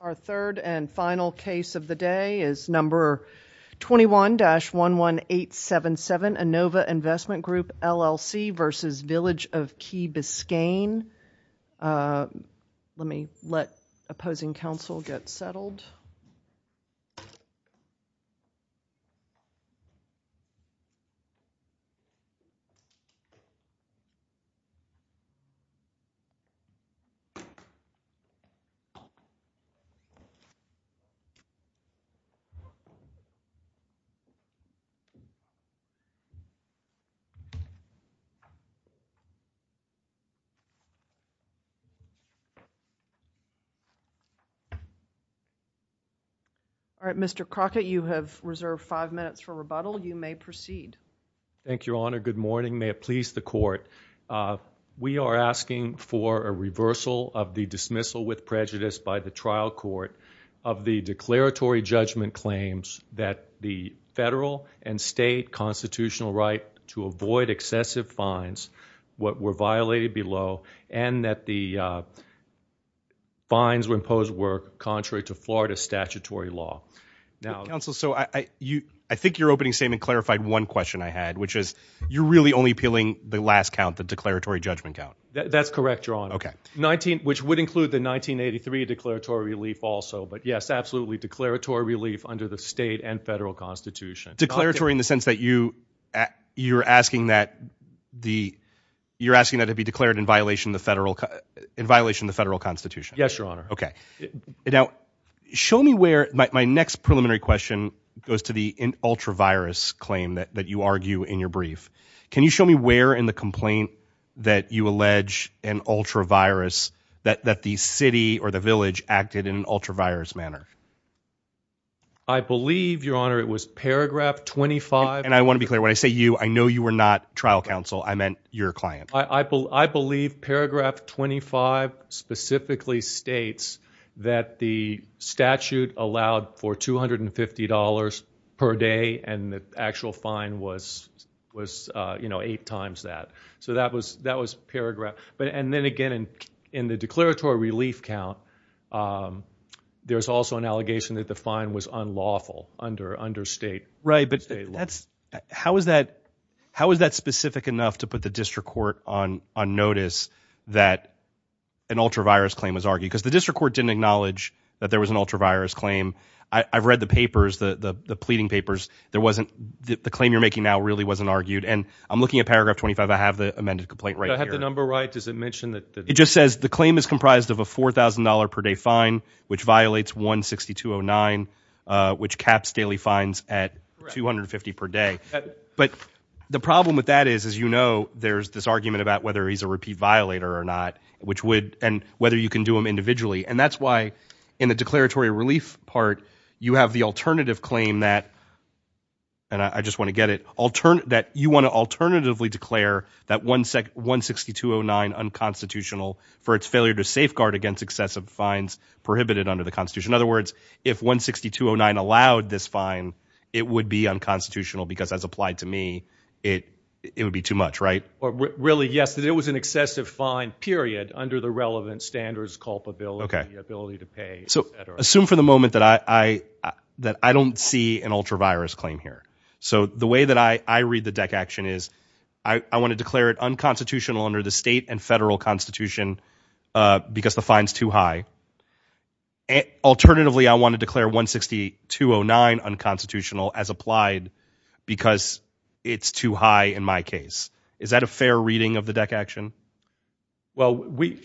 Our third and final case of the day is number 21-11877, Innova Investment Group, LLC v. Village of Key Biscayne. Let me let opposing counsel get settled. All right, Mr. Crockett, you have reserved five minutes for rebuttal. You may proceed. Thank you, Your Honor. Good morning. May it please the Court, we are asking for a reversal of the dismissal with prejudice by the trial court of the declaratory judgment claims that the federal and state constitutional right to avoid excessive fines, what were violated below and that the fines were imposed were contrary to Florida statutory law. Counsel, so I think you're opening statement clarified one question I had, which is you're really only appealing the last count, the declaratory judgment count. That's correct, Your Honor. Okay. Which would include the 1983 declaratory relief also, but yes, absolutely, declaratory relief under the state and federal constitution. Declaratory in the sense that you, you're asking that the, you're asking that to be declared in violation of the federal, in violation of the federal constitution. Yes, Your Honor. Okay. Now, show me where my next preliminary question goes to the ultra virus claim that you argue in your brief. Can you show me where in the complaint that you allege an ultra virus manner? I believe Your Honor, it was paragraph 25. And I want to be clear when I say you, I know you were not trial counsel. I meant your client. I believe paragraph 25 specifically states that the statute allowed for $250 per day and the actual fine was, was, uh, you know, eight times that. So that was, that was paragraph. But, and then again, in, in the declaratory relief count, um, there's also an allegation that the fine was unlawful under, under state. Right. But that's, how is that, how is that specific enough to put the district court on, on notice that an ultra virus claim was argued because the district court didn't acknowledge that there was an ultra virus claim. I've read the papers, the, the, the pleading papers. There wasn't the claim you're making now really wasn't argued. And I'm looking at paragraph 25. I have the amended complaint, right? Is that the number, right? Does it mention that it just says the claim is comprised of a $4,000 per day fine, which violates one 6,209, uh, which caps daily fines at 250 per day. But the problem with that is, as you know, there's this argument about whether he's a repeat violator or not, which would, and whether you can do them individually. And that's why in the declaratory relief part, you have the alternative claim that, and I unconstitutional for its failure to safeguard against excessive fines prohibited under the constitution. In other words, if one 6,209 allowed this fine, it would be unconstitutional because as applied to me, it, it would be too much, right? Really? Yes. It was an excessive fine period under the relevant standards, culpability, ability to pay. So assume for the moment that I, I, that I don't see an ultra virus claim here. So the way that I, I read the deck action is I want to declare it unconstitutional under the state and federal constitution, uh, because the fines too high. And alternatively, I want to declare one 6,209 unconstitutional as applied because it's too high in my case. Is that a fair reading of the deck action? Well, we,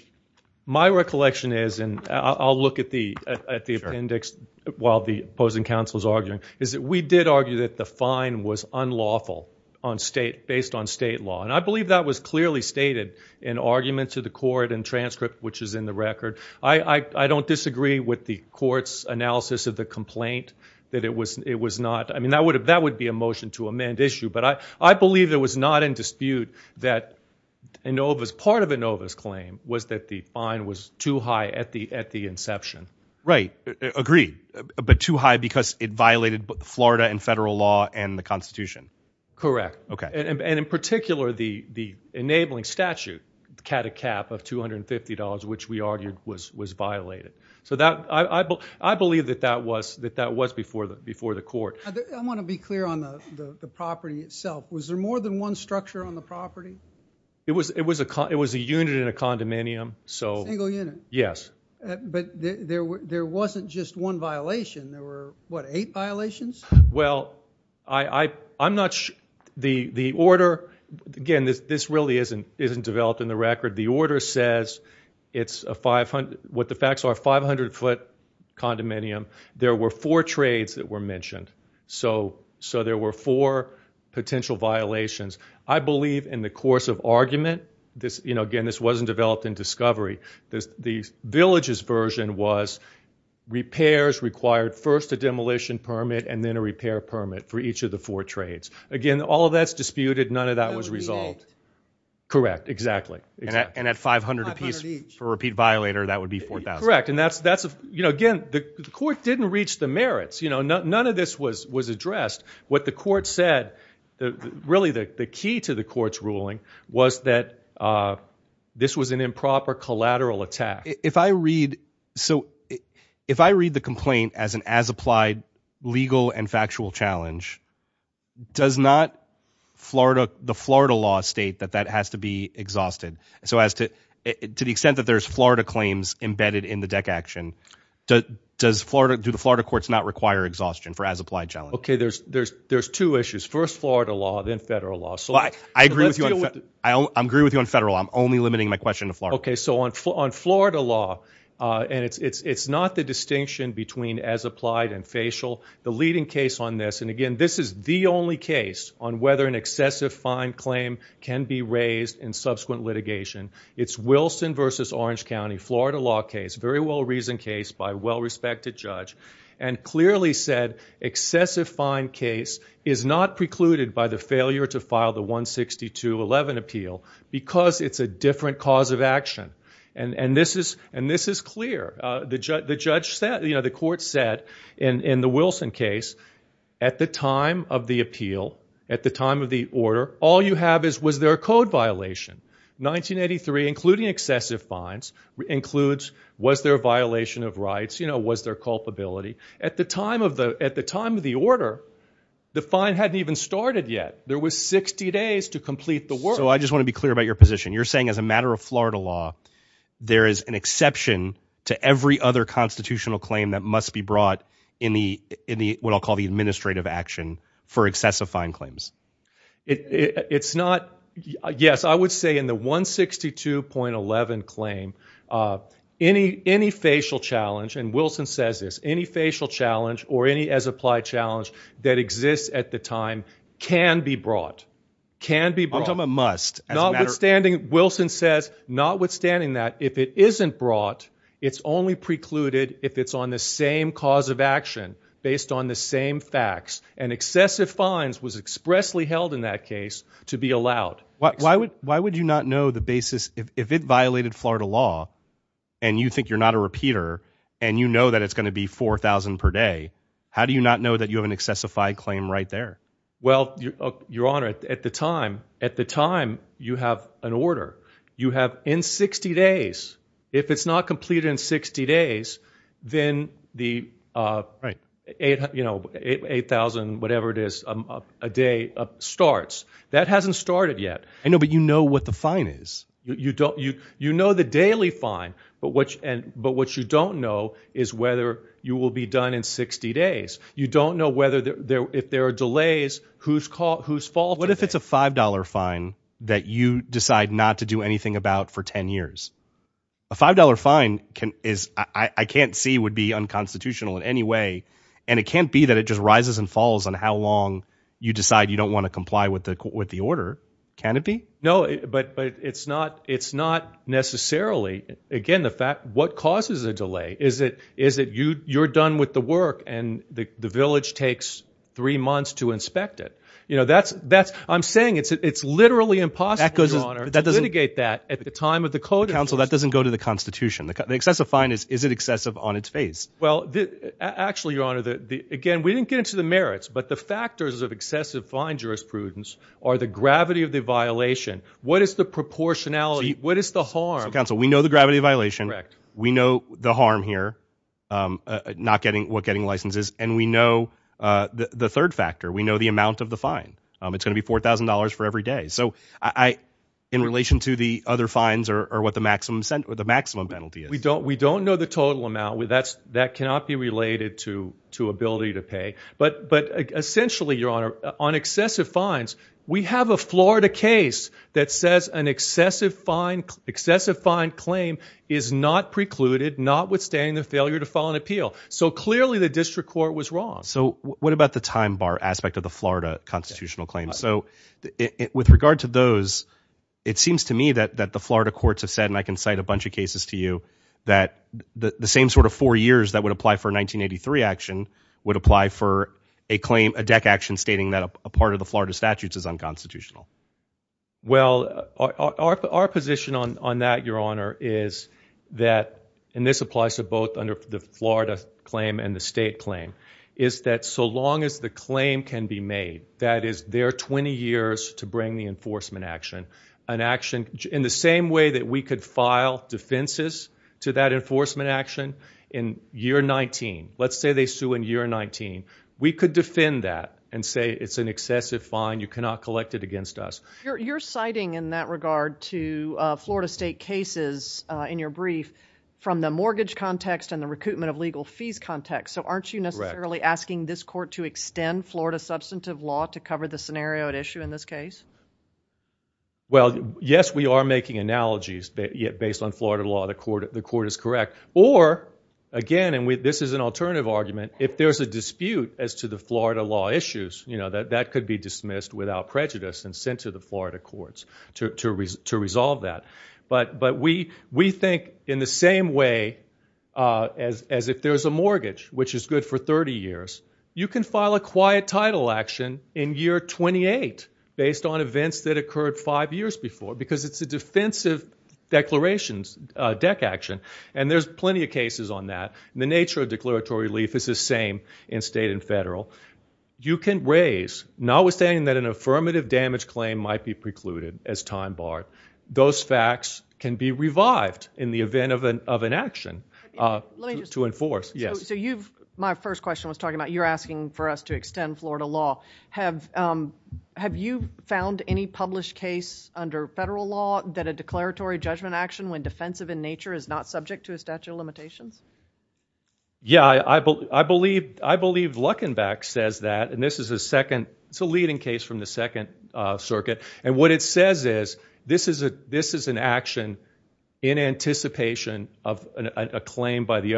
my recollection is, and I'll look at the, at the appendix while the opposing counsel is arguing, is that we did argue that the fine was unlawful on state based on state law. And I believe that was clearly stated in argument to the court and transcript, which is in the record. I, I, I don't disagree with the court's analysis of the complaint that it was, it was not. I mean, that would have, that would be a motion to amend issue, but I, I believe there was not in dispute that Inova's part of Inova's because it violated Florida and federal law and the constitution. Correct. Okay. And in particular the, the enabling statute, the cat a cap of $250, which we argued was, was violated. So that I, I, I believe that that was that that was before the, before the court, I want to be clear on the property itself. Was there more than one structure on the property? It was, it was a con, it was a unit in a condominium. So yes, but there, there wasn't just one violation. There were what, eight violations? Well, I, I, I'm not sure the, the order, again, this, this really isn't, isn't developed in the record. The order says it's a 500, what the facts are 500 foot condominium. There were four trades that were mentioned. So, so there were four potential violations. I believe in the course of argument, this, you know, the village's version was repairs required first a demolition permit and then a repair permit for each of the four trades. Again, all of that's disputed. None of that was resolved. Correct. Exactly. And at 500 a piece for repeat violator, that would be 4,000. Correct. And that's, that's, you know, again, the court didn't reach the merits, you know, none of this was, was addressed. What the court said, really the key to the court's ruling was that this was an improper collateral attack. If I read, so if I read the complaint as an as applied legal and factual challenge, does not Florida, the Florida law state that that has to be exhausted. So as to, to the extent that there's Florida claims embedded in the deck action, does Florida, do the Florida courts not require exhaustion for as applied challenge? Okay. There's, there's, there's two issues. First, Florida law, then federal law. So I agree with you. I agree with you on federal. I'm only limiting my question to Florida. Okay. So on F on Florida law, uh, and it's, it's, it's not the distinction between as applied and facial the leading case on this. And again, this is the only case on whether an excessive fine claim can be raised in subsequent litigation. It's Wilson versus Orange County, Florida law case, very well reasoned case by well-respected judge and clearly said excessive fine case is not precluded by the failure to file the one 62 11 appeal because it's a different cause of action. And this is, and this is clear. Uh, the judge, the judge said, you know, the court said in, in the Wilson case at the time of the appeal, at the time of the order, all you have is, was there a code violation 1983 including excessive fines includes, was there a violation of rights? You know, was there a culpability at the time of the, at the time of the order, the fine hadn't even started yet. There was 60 days to complete the work. So I just want to be clear about your position. You're saying as a matter of Florida law, there is an exception to every other constitutional claim that must be brought in the, in the, what I'll call the administrative action for excessive fine claims. It's not, yes, I would say in the one 62.11 claim, uh, any, any facial challenge. And Wilson says this, any facial challenge or any as applied challenge that exists at the time can be brought, can be brought a must. Notwithstanding, Wilson says, notwithstanding that if it isn't brought, it's only precluded if it's on the same cause of action based on the same facts and excessive fines was expressly held in that case to be allowed. Why would, why would you not know the basis if it violated Florida law and you think you're not a repeater and you know that it's going to be 4,000 per day? How do you not know that you have an excessified claim right there? Well, your Honor, at the time, at the time you have an order you have in 60 days, if it's not completed in 60 days, then the, uh, eight, you know, eight, 8,000, whatever it is, um, a day of starts that hasn't started yet. I know, but you know what the fine is. You don't, you, you know, the daily fine, but what you, and, but what you don't know is whether you will be done in 60 days. You don't know whether there, if there are delays, who's caught, who's fault. What if it's a $5 fine that you decide not to do anything about for 10 years, a $5 fine can is, I can't see would be unconstitutional in any way. And it can't be that it just rises and falls on how long you decide you don't want to comply with the court, with the order canopy. No, but, but, but it's not, it's not necessarily, again, the fact what causes a delay is it, is it you, you're done with the work and the village takes three months to inspect it. You know, that's, that's, I'm saying it's, it's literally impossible to litigate that at the time of the court. That doesn't go to the constitution. The excessive fine is, is it excessive on its face? Well, actually, your Honor, the, the, again, we didn't get to the merits, but the factors of excessive fine jurisprudence are the gravity of the violation. What is the proportionality? What is the harm? Council? We know the gravity of violation. We know the harm here, um, uh, not getting what getting licenses. And we know, uh, the, the third factor, we know the amount of the fine. Um, it's going to be $4,000 for every day. So I, in relation to the other fines or, or what the maximum cent or the maximum penalty is, we don't, we don't know the total amount where that's, that cannot be related to, to ability to pay. But, but essentially your Honor on excessive fines, we have a Florida case that says an excessive fine, excessive fine claim is not precluded, not withstanding the failure to file an appeal. So clearly the district court was wrong. So what about the time bar aspect of the Florida constitutional claims? So with regard to those, it seems to me that, that the Florida courts have said, and I can cite a bunch of cases to you that the same sort of four years that would apply for a 1983 action would apply for a claim, a deck action stating that a part of the Florida statutes is unconstitutional. Well, our, our, our position on, on that, your Honor is that, and this applies to both under the Florida claim and the state claim is that so long as the claim can be made, that is their 20 years to bring the enforcement action, an action in the same way that we could file defenses to that enforcement action in year 19. Let's say they sue in year 19, we could defend that and say it's an excessive fine. You cannot collect it against us. You're, you're citing in that regard to a Florida state cases in your brief from the mortgage context and the recoupment of legal fees context. So aren't you necessarily asking this court to extend Florida substantive law to cover the scenario at issue in this case? Well, yes, we are making analogies based on Florida law. The court, the court is correct. Or again, and we, this is an alternative argument. If there's a dispute as to the Florida law issues, you know, that, that could be dismissed without prejudice and sent to the Florida courts to, to re to resolve that. But, but we, we think in the same way, uh, as, as if there's a mortgage, which is good for 30 years, you can file a quiet title action in year 28 based on events that occurred five years before, because it's a defensive declarations, uh, deck action. And there's plenty of cases on that. And the nature of declaratory leaf is the same in state and federal. You can raise, notwithstanding that an affirmative damage claim might be precluded as time bar, those facts can be revived in the event of an, of an action to enforce. Yes. So you've, my first question was talking about, you're asking for us to extend Florida law. Have, um, have you found any published case under federal law that a declaratory judgment action when defensive in nature is not subject to a statute of limitations? Yeah, I, I believe, I believe Luckenbeck says that, and this is a second, it's a leading case from the second, uh, circuit. And what it says is this is a, this is an action in anticipation of a claim by the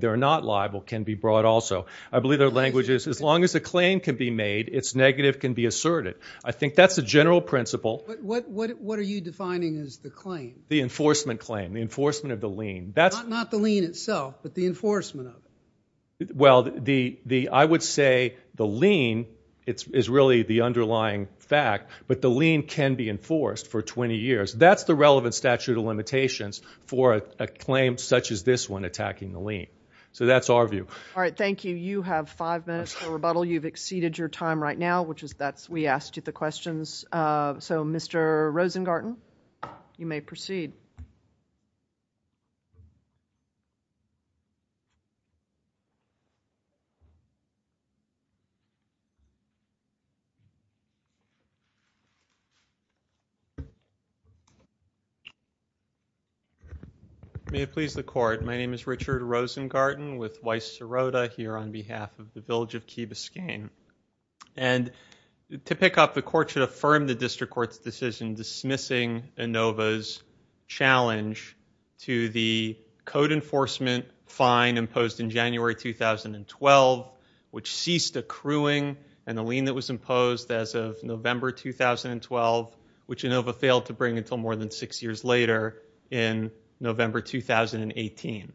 they're not liable can be brought also. I believe their language is as long as a claim can be made, it's negative can be asserted. I think that's a general principle. What, what, what, what are you defining as the claim? The enforcement claim, the enforcement of the lien. That's not the lien itself, but the enforcement of it. Well, the, the, I would say the lien it's, is really the underlying fact, but the lien can be enforced for 20 years. That's the relevant statute of the lien. So that's our view. All right. Thank you. You have five minutes for rebuttal. You've exceeded your time right now, which is that's, we asked you the questions. Uh, so Mr. Rosengarten, you may proceed. May it please the court. My name is Richard Rosengarten with Weiss Sirota here on behalf of the Village of Key Biscayne. And to pick up the court should challenge to the code enforcement fine imposed in January, 2012, which ceased accruing and the lien that was imposed as of November, 2012, which Inova failed to bring until more than six years later in November, 2018.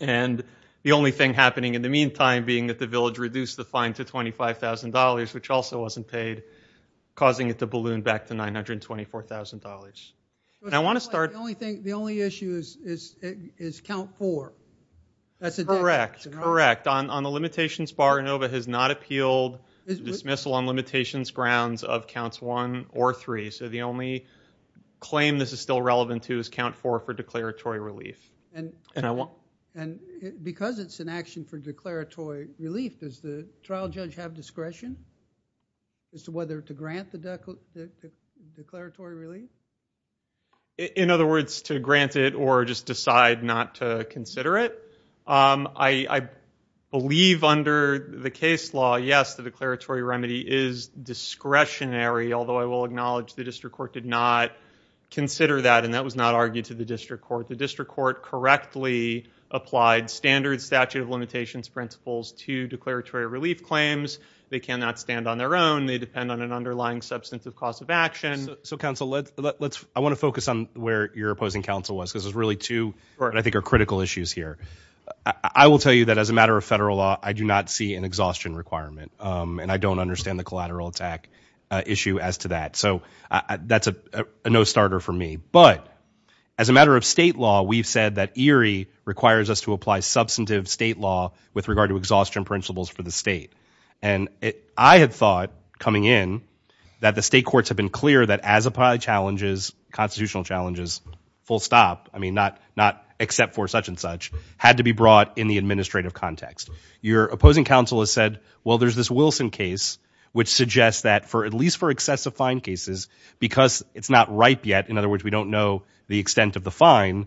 And the only thing happening in the meantime, being that the village reduced the I want to start. The only thing, the only issue is, is, is count four. That's correct. Correct. On, on the limitations bar Inova has not appealed dismissal on limitations grounds of counts one or three. So the only claim this is still relevant to is count four for declaratory relief. And, and I want, and because it's an action for declaratory relief is the trial judge have discretion as to whether to grant the declaratory relief. In other words, to grant it or just decide not to consider it. Um, I, I believe under the case law, yes, the declaratory remedy is discretionary, although I will acknowledge the district court did not consider that and that was not argued to the district court. The district court correctly applied standard statute of limitations principles to declaratory relief claims. They cannot stand on their own. They depend on an underlying substantive cost of action. So counsel, let's, let's, I want to focus on where your opposing counsel was because there's really two, I think are critical issues here. I will tell you that as a matter of federal law, I do not see an exhaustion requirement. Um, and I don't understand the collateral attack issue as to that. So that's a no starter for me. But as a matter of state law, we've said that Erie requires us to apply substantive state law with regard to exhaustion principles for the state. And it, I had thought coming in that the state courts have been clear that as apply challenges, constitutional challenges, full stop. I mean, not, not except for such and such had to be brought in the administrative context. Your opposing counsel has said, well, there's this Wilson case, which suggests that for at least for excessive fine cases, because it's not ripe yet. In other words, we don't know the extent of the fine.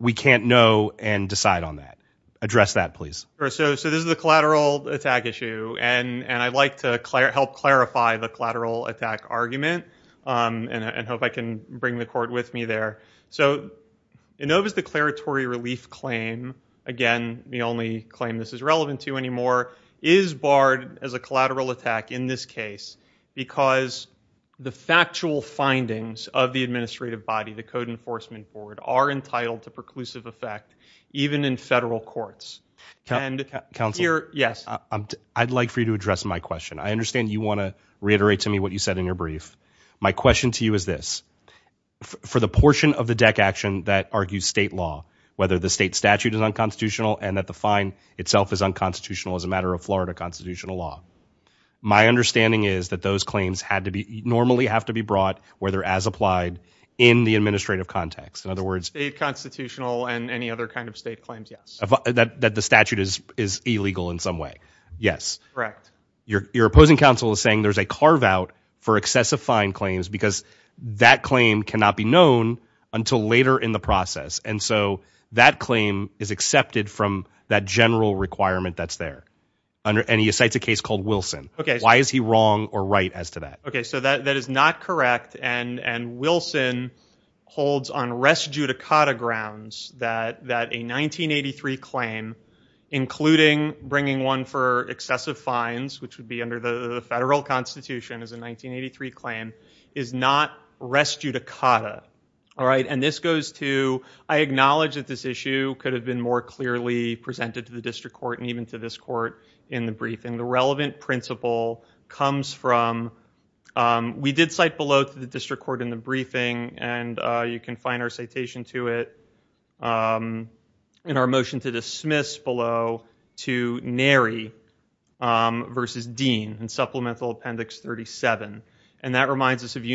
We can't know and decide on that. Address that please. So, so this is the collateral attack issue and, and I'd like to help clarify the collateral attack argument. Um, and I hope I can bring the court with me there. So Inova's declaratory relief claim, again, the only claim this is findings of the administrative body, the code enforcement board are entitled to preclusive effect even in federal courts and counsel. Yes. I'd like for you to address my question. I understand you want to reiterate to me what you said in your brief. My question to you is this for the portion of the deck action that argues state law, whether the state statute is unconstitutional and that the fine itself is unconstitutional as a matter of Florida constitutional law. My understanding is that those claims had to be normally have to be brought where they're as applied in the administrative context. In other words, a constitutional and any other kind of state claims. Yes. That, that the statute is, is illegal in some way. Yes, correct. Your, your opposing counsel is saying there's a carve out for excessive fine claims because that claim cannot be known until later in the process. And so that claim is accepted from that general requirement that's there. And he cites a case called Wilson. Okay. Why is he wrong or right as to that? Okay. So that, that is not correct. And, and Wilson holds on res judicata grounds that, that a 1983 claim, including bringing one for excessive fines, which would be under the federal constitution as a 1983 claim is not res judicata. All right. And this goes to, I acknowledge that this issue could have been more clearly presented to the district court and even to this court in the briefing. The relevant principle comes from, um, we did cite below to the district court in the briefing and, uh, you can find our citation to it, um, in our motion to dismiss below to Nary, um, versus Dean and supplemental appendix 37. And that reminds us of in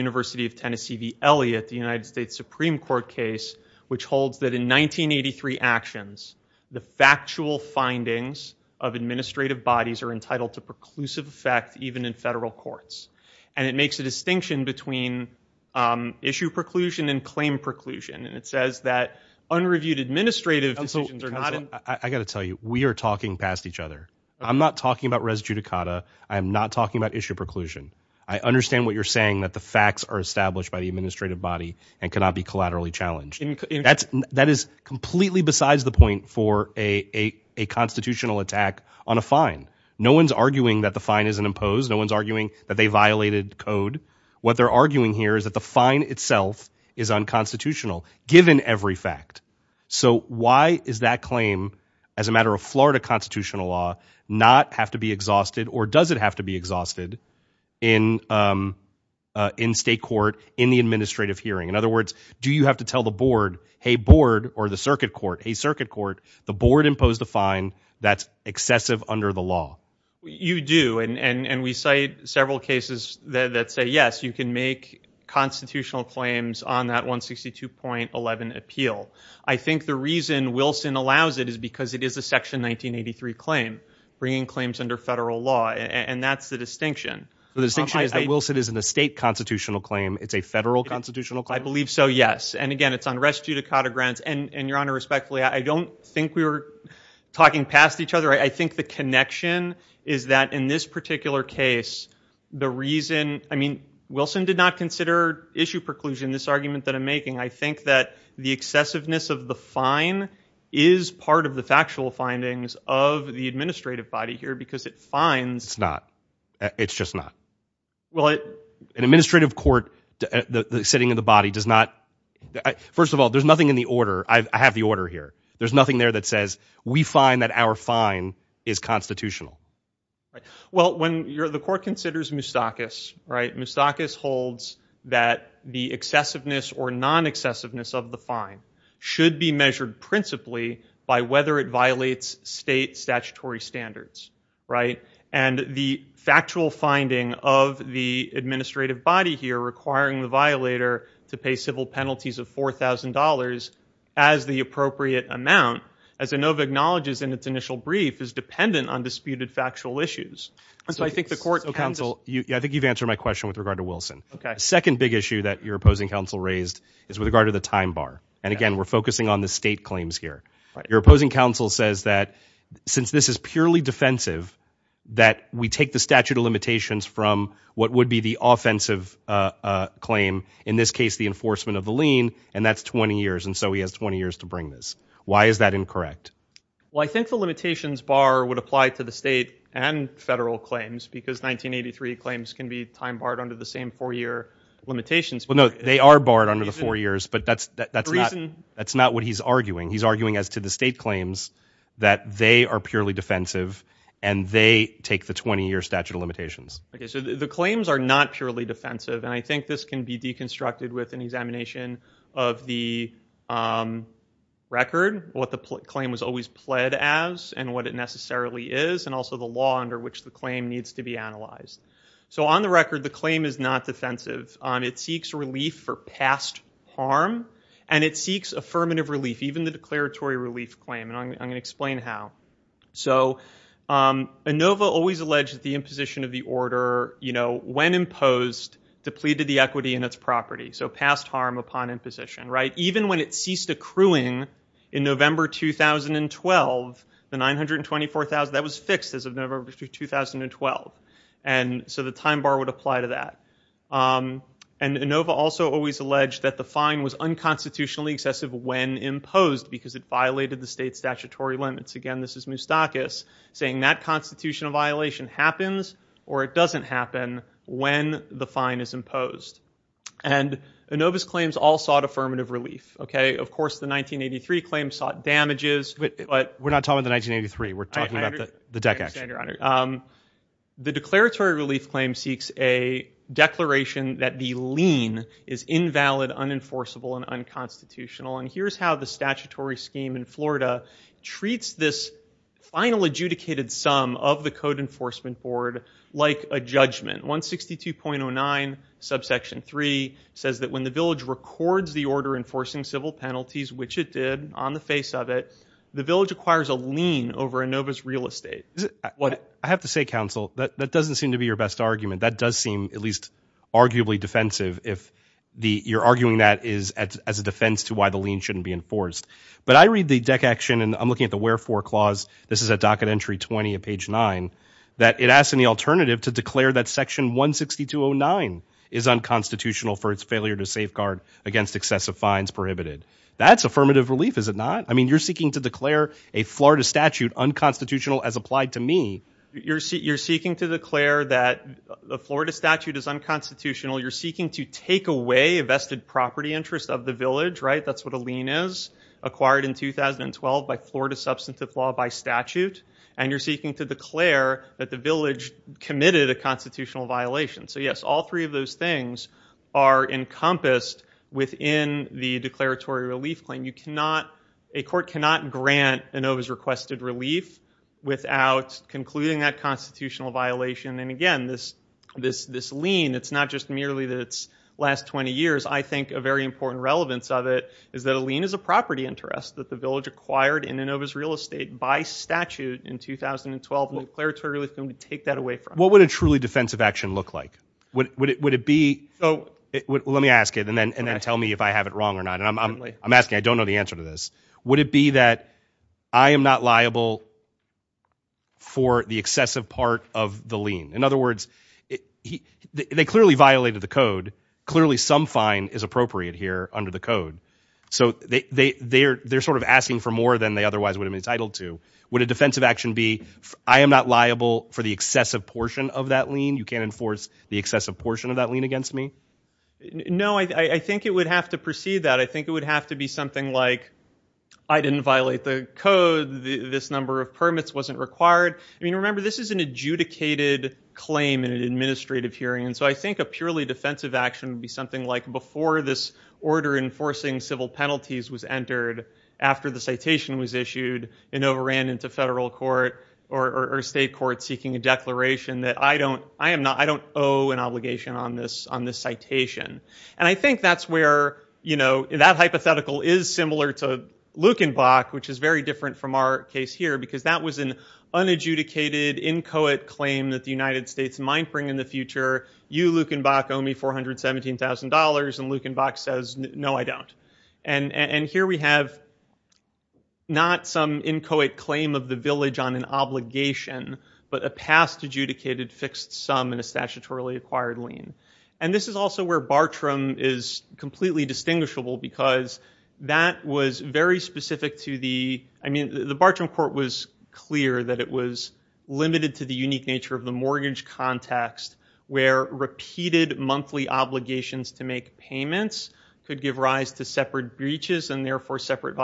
1983 actions, the factual findings of administrative bodies are entitled to preclusive effect, even in federal courts. And it makes a distinction between, um, issue preclusion and claim preclusion. And it says that unreviewed administrative decisions are not in. I got to tell you, we are talking past each other. I'm not talking about res judicata. I'm not talking about issue preclusion. I understand what you're saying, that the facts are established by the administrative body and cannot be collaterally challenged. That's, that is completely besides the point for a, a, a constitutional attack on a fine. No one's arguing that the fine isn't imposed. No one's arguing that they violated code. What they're arguing here is that the fine itself is unconstitutional given every fact. So why is that claim as a matter of Florida constitutional law not have to be exhausted or does it have to exhausted in, um, uh, in state court, in the administrative hearing? In other words, do you have to tell the board, Hey board, or the circuit court, a circuit court, the board imposed a fine that's excessive under the law. You do. And, and, and we cite several cases that say, yes, you can make constitutional claims on that one 62.11 appeal. I think the reason Wilson allows it is because it is a section 1983 claim bringing claims under federal law. And that's the distinction. The distinction is that Wilson is in a state constitutional claim. It's a federal constitutional claim. I believe so. Yes. And again, it's unrest due to Cotter grants and your honor respectfully, I don't think we were talking past each other. I think the connection is that in this particular case, the reason, I mean, Wilson did not consider issue preclusion, this argument that I'm making, I think that the excessiveness of the fine is part of the factual findings of the administrative body here because it finds it's not, it's just not, well, it, an administrative court, the sitting of the body does not. First of all, there's nothing in the order. I have the order here. There's nothing there that says we find that our fine is constitutional, right? Well, the court considers moustakas, right? Moustakas holds that the excessiveness or non-excessiveness of the fine should be measured principally by whether it violates state statutory standards, right? And the factual finding of the administrative body here requiring the violator to pay civil penalties of $4,000 as the appropriate amount, as Inova acknowledges in its initial brief is dependent on disputed factual issues. So I think the court counsel, I think you've answered my question with regard to Wilson. The second big issue that your opposing counsel raised is with regard to the time bar. And again, we're focusing on the state claims here. Your opposing counsel says that since this is purely defensive, that we take the statute of limitations from what would be the offensive claim, in this case, the enforcement of the lien, and that's 20 years. And so he has 20 years to bring this. Why is that incorrect? Well, I think the limitations bar would apply to the state and federal claims, because 1983 claims can be time barred under the same four-year limitations. Well, no, they are barred under the four years, but that's not what he's arguing. He's arguing as to the state claims that they are purely defensive and they take the 20-year statute of limitations. Okay, so the claims are not purely defensive. And I think this can be as and what it necessarily is and also the law under which the claim needs to be analyzed. So on the record, the claim is not defensive. It seeks relief for past harm and it seeks affirmative relief, even the declaratory relief claim. And I'm going to explain how. So ANOVA always alleged that the imposition of the order, you know, when imposed, depleted the equity in its property. So past harm upon imposition. Even when it ceased accruing in November 2012, the 924,000, that was fixed as of November 2012. And so the time bar would apply to that. And ANOVA also always alleged that the fine was unconstitutionally excessive when imposed because it violated the state statutory limits. Again, this is Moustakis saying that constitutional violation happens or it doesn't happen when the fine is imposed. And ANOVA's claims all sought affirmative relief. Okay, of course, the 1983 claim sought damages. But we're not talking about the 1983. We're talking about the DEC action. I understand, Your Honor. The declaratory relief claim seeks a declaration that the lien is invalid, unenforceable, and unconstitutional. And here's how the statutory scheme in Florida treats this final adjudicated sum of the Code Enforcement Board like a judgment. 162.09 subsection 3 says that when the village records the order enforcing civil penalties, which it did on the face of it, the village acquires a lien over ANOVA's real estate. I have to say, counsel, that doesn't seem to be your best argument. That does seem at least arguably defensive if you're arguing that is as a defense to why the lien shouldn't be enforced. But I read the DEC action, and I'm looking at the wherefore clause. This is a docket entry 20 page 9 that it asks any alternative to declare that section 162.09 is unconstitutional for its failure to safeguard against excessive fines prohibited. That's affirmative relief, is it not? I mean, you're seeking to declare a Florida statute unconstitutional as applied to me. You're seeking to declare that the Florida statute is unconstitutional. You're seeking to take away a vested property interest of the village, right? That's what a lien is by Florida substantive law by statute. And you're seeking to declare that the village committed a constitutional violation. So yes, all three of those things are encompassed within the declaratory relief claim. A court cannot grant ANOVA's requested relief without concluding that constitutional violation. And again, this lien, it's not just merely that it's last 20 years. I think a very important relevance of it is that a lien is a property interest that the village acquired in ANOVA's real estate by statute in 2012, declaratory relief, and we take that away from it. What would a truly defensive action look like? Would it be, let me ask it and then tell me if I have it wrong or not. I'm asking, I don't know the answer to this. Would it be that I am not liable for the excessive part of the lien? In other words, they clearly violated the code. Clearly some fine is appropriate here under the code. So they're sort of asking for more than they otherwise would have been entitled to. Would a defensive action be, I am not liable for the excessive portion of that lien? You can't enforce the excessive portion of that lien against me? No, I think it would have to precede that. I think it would have to be something like, I didn't violate the code. This number of permits wasn't required. I mean, remember, this is an adjudicated claim in an administrative hearing. So I think a purely defensive action would be something like, before this order enforcing civil penalties was entered, after the citation was issued, ANOVA ran into federal court or state court seeking a declaration that I don't owe an obligation on this citation. And I think that's where that hypothetical is similar to which is very different from our case here, because that was an unadjudicated, inchoate claim that the United States might bring in the future. You, Lukenbach, owe me $417,000. And Lukenbach says, no, I don't. And here we have not some inchoate claim of the village on an obligation, but a past adjudicated fixed sum in a statutorily acquired lien. And this is also where Bartram is completely distinguishable, because that was very specific to the, I mean, the Bartram court was clear that it was limited to the unique nature of the mortgage context, where repeated monthly obligations to make payments could give rise to separate breaches and therefore separate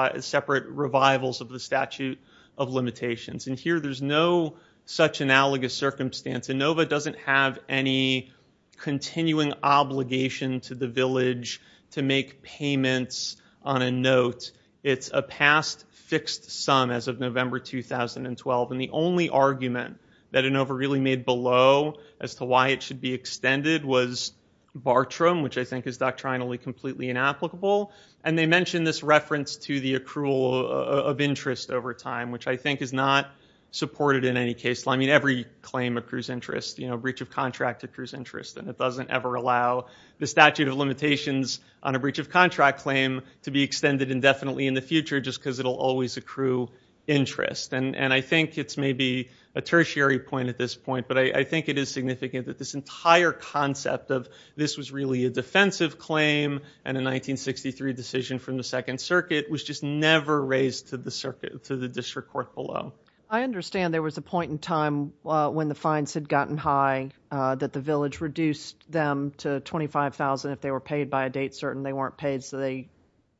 revivals of the statute of limitations. And here there's no such analogous circumstance. ANOVA doesn't have any continuing obligation to the village to make payments on a note. It's a past fixed sum as of November 2012. And the only argument that ANOVA really made below as to why it should be extended was Bartram, which I think is doctrinally completely inapplicable. And they mentioned this reference to the accrual of interest over time, which I think is not supported in any case. Every claim accrues interest. Breach of contract accrues interest. And it doesn't ever allow the statute of limitations on a breach of contract claim to be extended indefinitely in the future just because it will always accrue interest. And I think it's maybe a tertiary point at this point, but I think it is significant that this entire concept of this was really a defensive claim and a 1963 decision from the second circuit was just never raised to the district court below. I understand there was a point in time when the fines had gotten high that the village reduced them to $25,000 if they were paid by a date certain they weren't paid, so they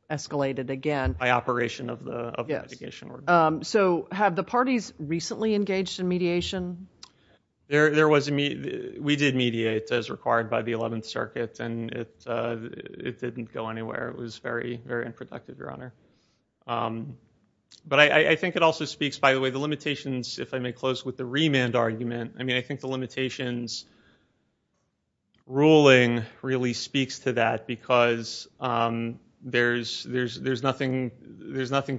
escalated again. By operation of the litigation. So have the parties recently engaged in mediation? We did mediate as required by the 11th circuit, and it didn't go anywhere. It was very, if I may close with the remand argument, I think the limitations ruling really speaks to that because there's nothing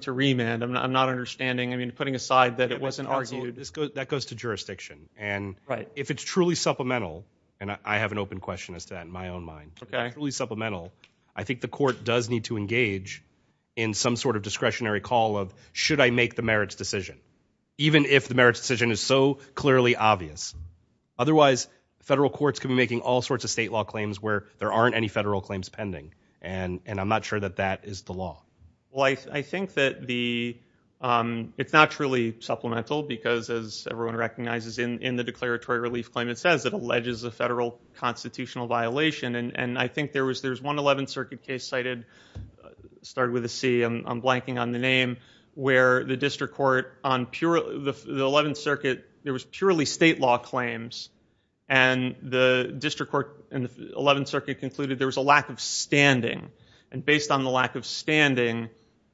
to remand. I'm not understanding. Putting aside that it wasn't argued. That goes to jurisdiction. And if it's truly supplemental, and I have an open question as to that in my own mind, if it's truly supplemental, I think the court does need to even if the merits decision is so clearly obvious. Otherwise, federal courts can be making all sorts of state law claims where there aren't any federal claims pending. And I'm not sure that that is the law. Well, I think that the it's not truly supplemental because as everyone recognizes in the declaratory relief claim, it says it alleges a federal constitutional violation. And I think there was there's one 11th circuit case cited started with a C. I'm blanking on the name, where the district court on the 11th circuit, there was purely state law claims. And the district court in the 11th circuit concluded there was a lack of standing. And based on the lack of standing,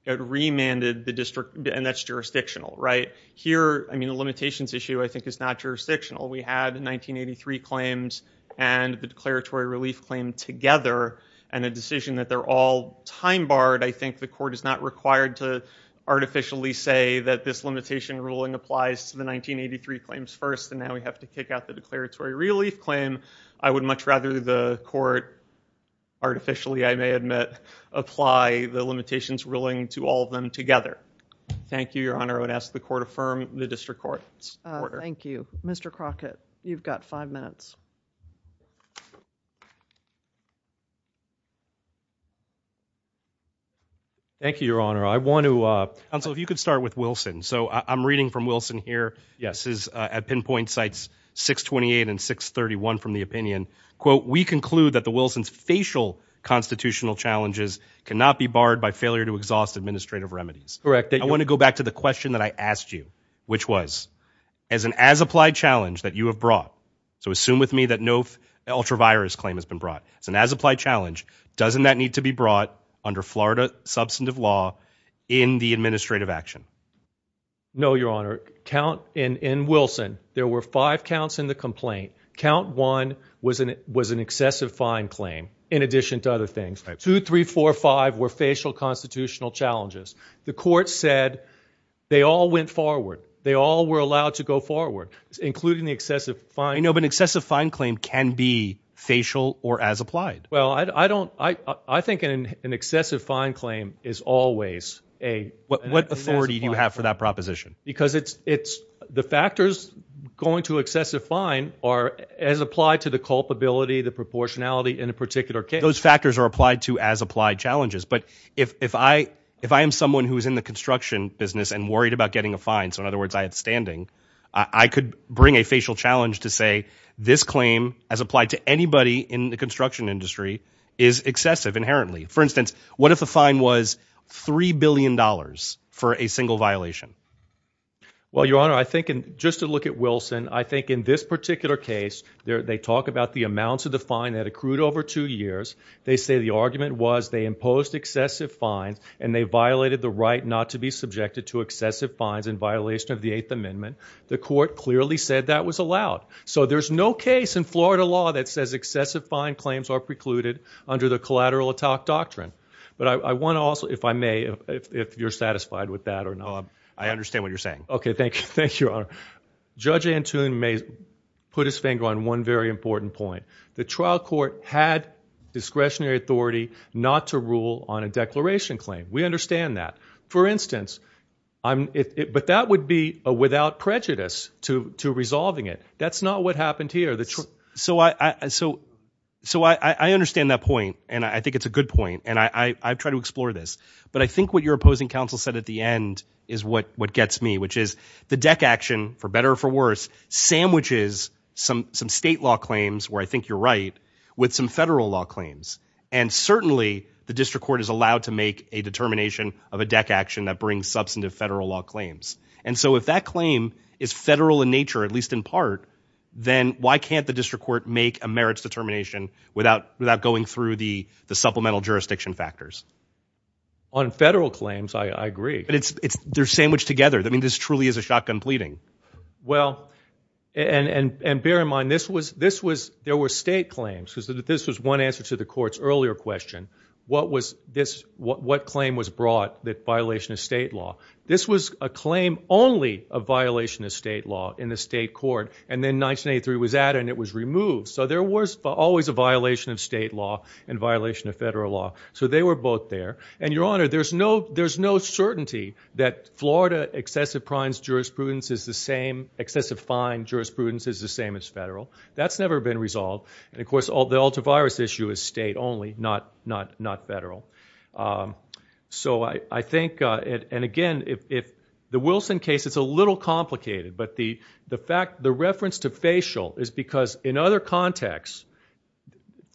it remanded the district. And that's jurisdictional, right? Here, I mean, the limitations issue, I think, is not jurisdictional. We had in 1983 claims and the declaratory relief claim together and a decision that they're all time barred. I think the court is not required to artificially say that this limitation ruling applies to the 1983 claims first. And now we have to kick out the declaratory relief claim. I would much rather the court artificially, I may admit, apply the limitations ruling to all of them together. Thank you, Your Honor. I would ask the court affirm the district court's order. Thank you, Mr. Crockett. You've got five minutes. Thank you, Your Honor. I want to- Counsel, if you could start with Wilson. So I'm reading from Wilson here. Yes, at pinpoint sites 628 and 631 from the opinion, quote, we conclude that the Wilson's facial constitutional challenges cannot be barred by failure to exhaust administrative remedies. Correct. I want to go back to the question that I asked you, which was, as an as-applied challenge that you have brought, so assume with me that no ultra-virus claim has been brought under Florida substantive law in the administrative action. No, Your Honor. Count, in Wilson, there were five counts in the complaint. Count one was an excessive fine claim, in addition to other things. Two, three, four, five were facial constitutional challenges. The court said they all went forward. They all were allowed to go forward, including the excessive fine. No, but excessive fine claim can be facial or as-applied. Well, I think an excessive fine claim is always a- What authority do you have for that proposition? Because the factors going to excessive fine are as applied to the culpability, the proportionality in a particular case. Those factors are applied to as-applied challenges, but if I am someone who is in the construction business and worried about getting a fine, so in other words, I had standing, I could bring a facial challenge to say this claim as applied to anybody in the construction industry is excessive inherently. For instance, what if a fine was $3 billion for a single violation? Well, Your Honor, I think just to look at Wilson, I think in this particular case, they talk about the amounts of the fine that accrued over two years. They say the argument was they imposed excessive fines and they violated the right not to be subjected to excessive fines in violation of the Eighth Amendment. The court clearly said that was excessive fine claims are precluded under the collateral attack doctrine. But I want to also, if I may, if you're satisfied with that or not. I understand what you're saying. Okay. Thank you. Thank you, Your Honor. Judge Antoon may put his finger on one very important point. The trial court had discretionary authority not to rule on a declaration claim. We understand that. For instance, but that would be without prejudice to resolving it. That's not what happened here. So I understand that point and I think it's a good point and I try to explore this. But I think what your opposing counsel said at the end is what gets me, which is the deck action, for better or for worse, sandwiches some state law claims where I think you're right with some federal law claims. And certainly the district court is allowed to make a determination of a deck action that brings substantive federal law claims. And so if that claim is federal in nature, at least in part, then why can't the district court make a merits determination without going through the supplemental jurisdiction factors? On federal claims, I agree. But they're sandwiched together. I mean, this truly is a shotgun pleading. Well, and bear in mind, there were state claims. This was one answer to the court's earlier question. What claim was brought that violation of state law? This was a claim only of violation of state law in the state court. And then 1983 was added and it was removed. So there was always a violation of state law and violation of federal law. So they were both there. And your honor, there's no certainty that Florida excessive primes jurisprudence is the same, excessive fine jurisprudence is the same as federal. That's never been resolved. And of course, the ultra virus issue is state only, not federal. So I think, and again, if the Wilson case, it's a little complicated. But the fact, the reference to facial is because in other contexts,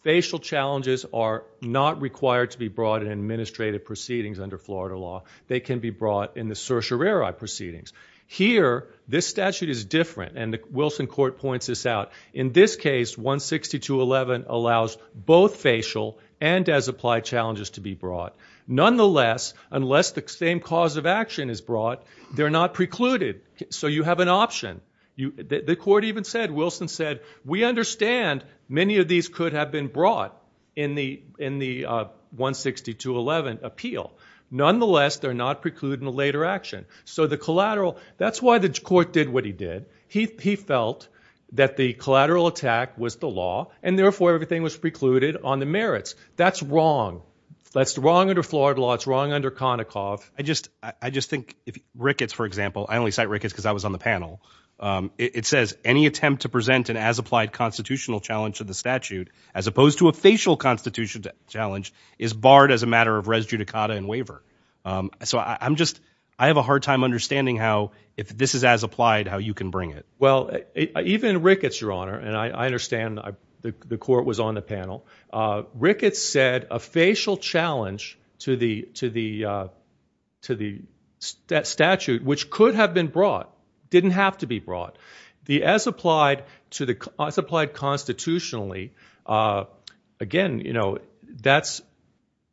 facial challenges are not required to be brought in administrative proceedings under Florida law. They can be brought in the certiorari proceedings. Here, this statute is different. And the Wilson court points this out. In this case, 162.11 allows both facial and as applied challenges to be brought. Nonetheless, unless the same cause of action is brought, they're not precluded. So you have an option. The court even said, Wilson said, we understand many of these could have been brought in the 162.11 appeal. Nonetheless, they're not precluded in a later action. So the collateral, that's why the court did what he did. He felt that the collateral attack was the law and therefore everything was precluded on the merits. That's wrong. That's the wrong under Florida law. It's wrong under Konicoff. I just think if Ricketts, for example, I only cite Ricketts because I was on the panel. It says any attempt to present an as applied constitutional challenge to the statute, as opposed to a facial constitution challenge is barred as a matter of res judicata and waiver. So I'm just, I have a hard time understanding how, if this is as applied, how you can bring it. Well, even Ricketts, your honor, and I understand the court was on the panel. Ricketts said a facial challenge to the statute, which could have been brought, didn't have to be brought. The as applied as applied constitutionally, again,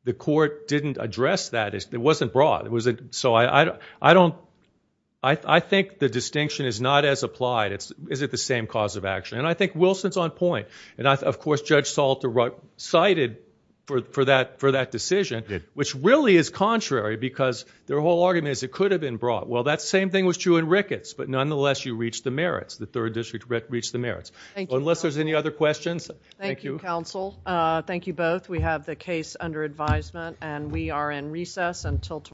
the court didn't address that. It wasn't brought. I think the distinction is not as applied. Is it the same cause of action? And I think Wilson's on point. And of course, Judge Salter cited for that decision, which really is contrary because their whole argument is it could have been brought. Well, that same thing was true in Ricketts, but nonetheless, you reached the merits. The third district reached the merits. Unless there's any other questions. Thank you, counsel. Thank you both. We have the case under advisement and we are in recess until tomorrow.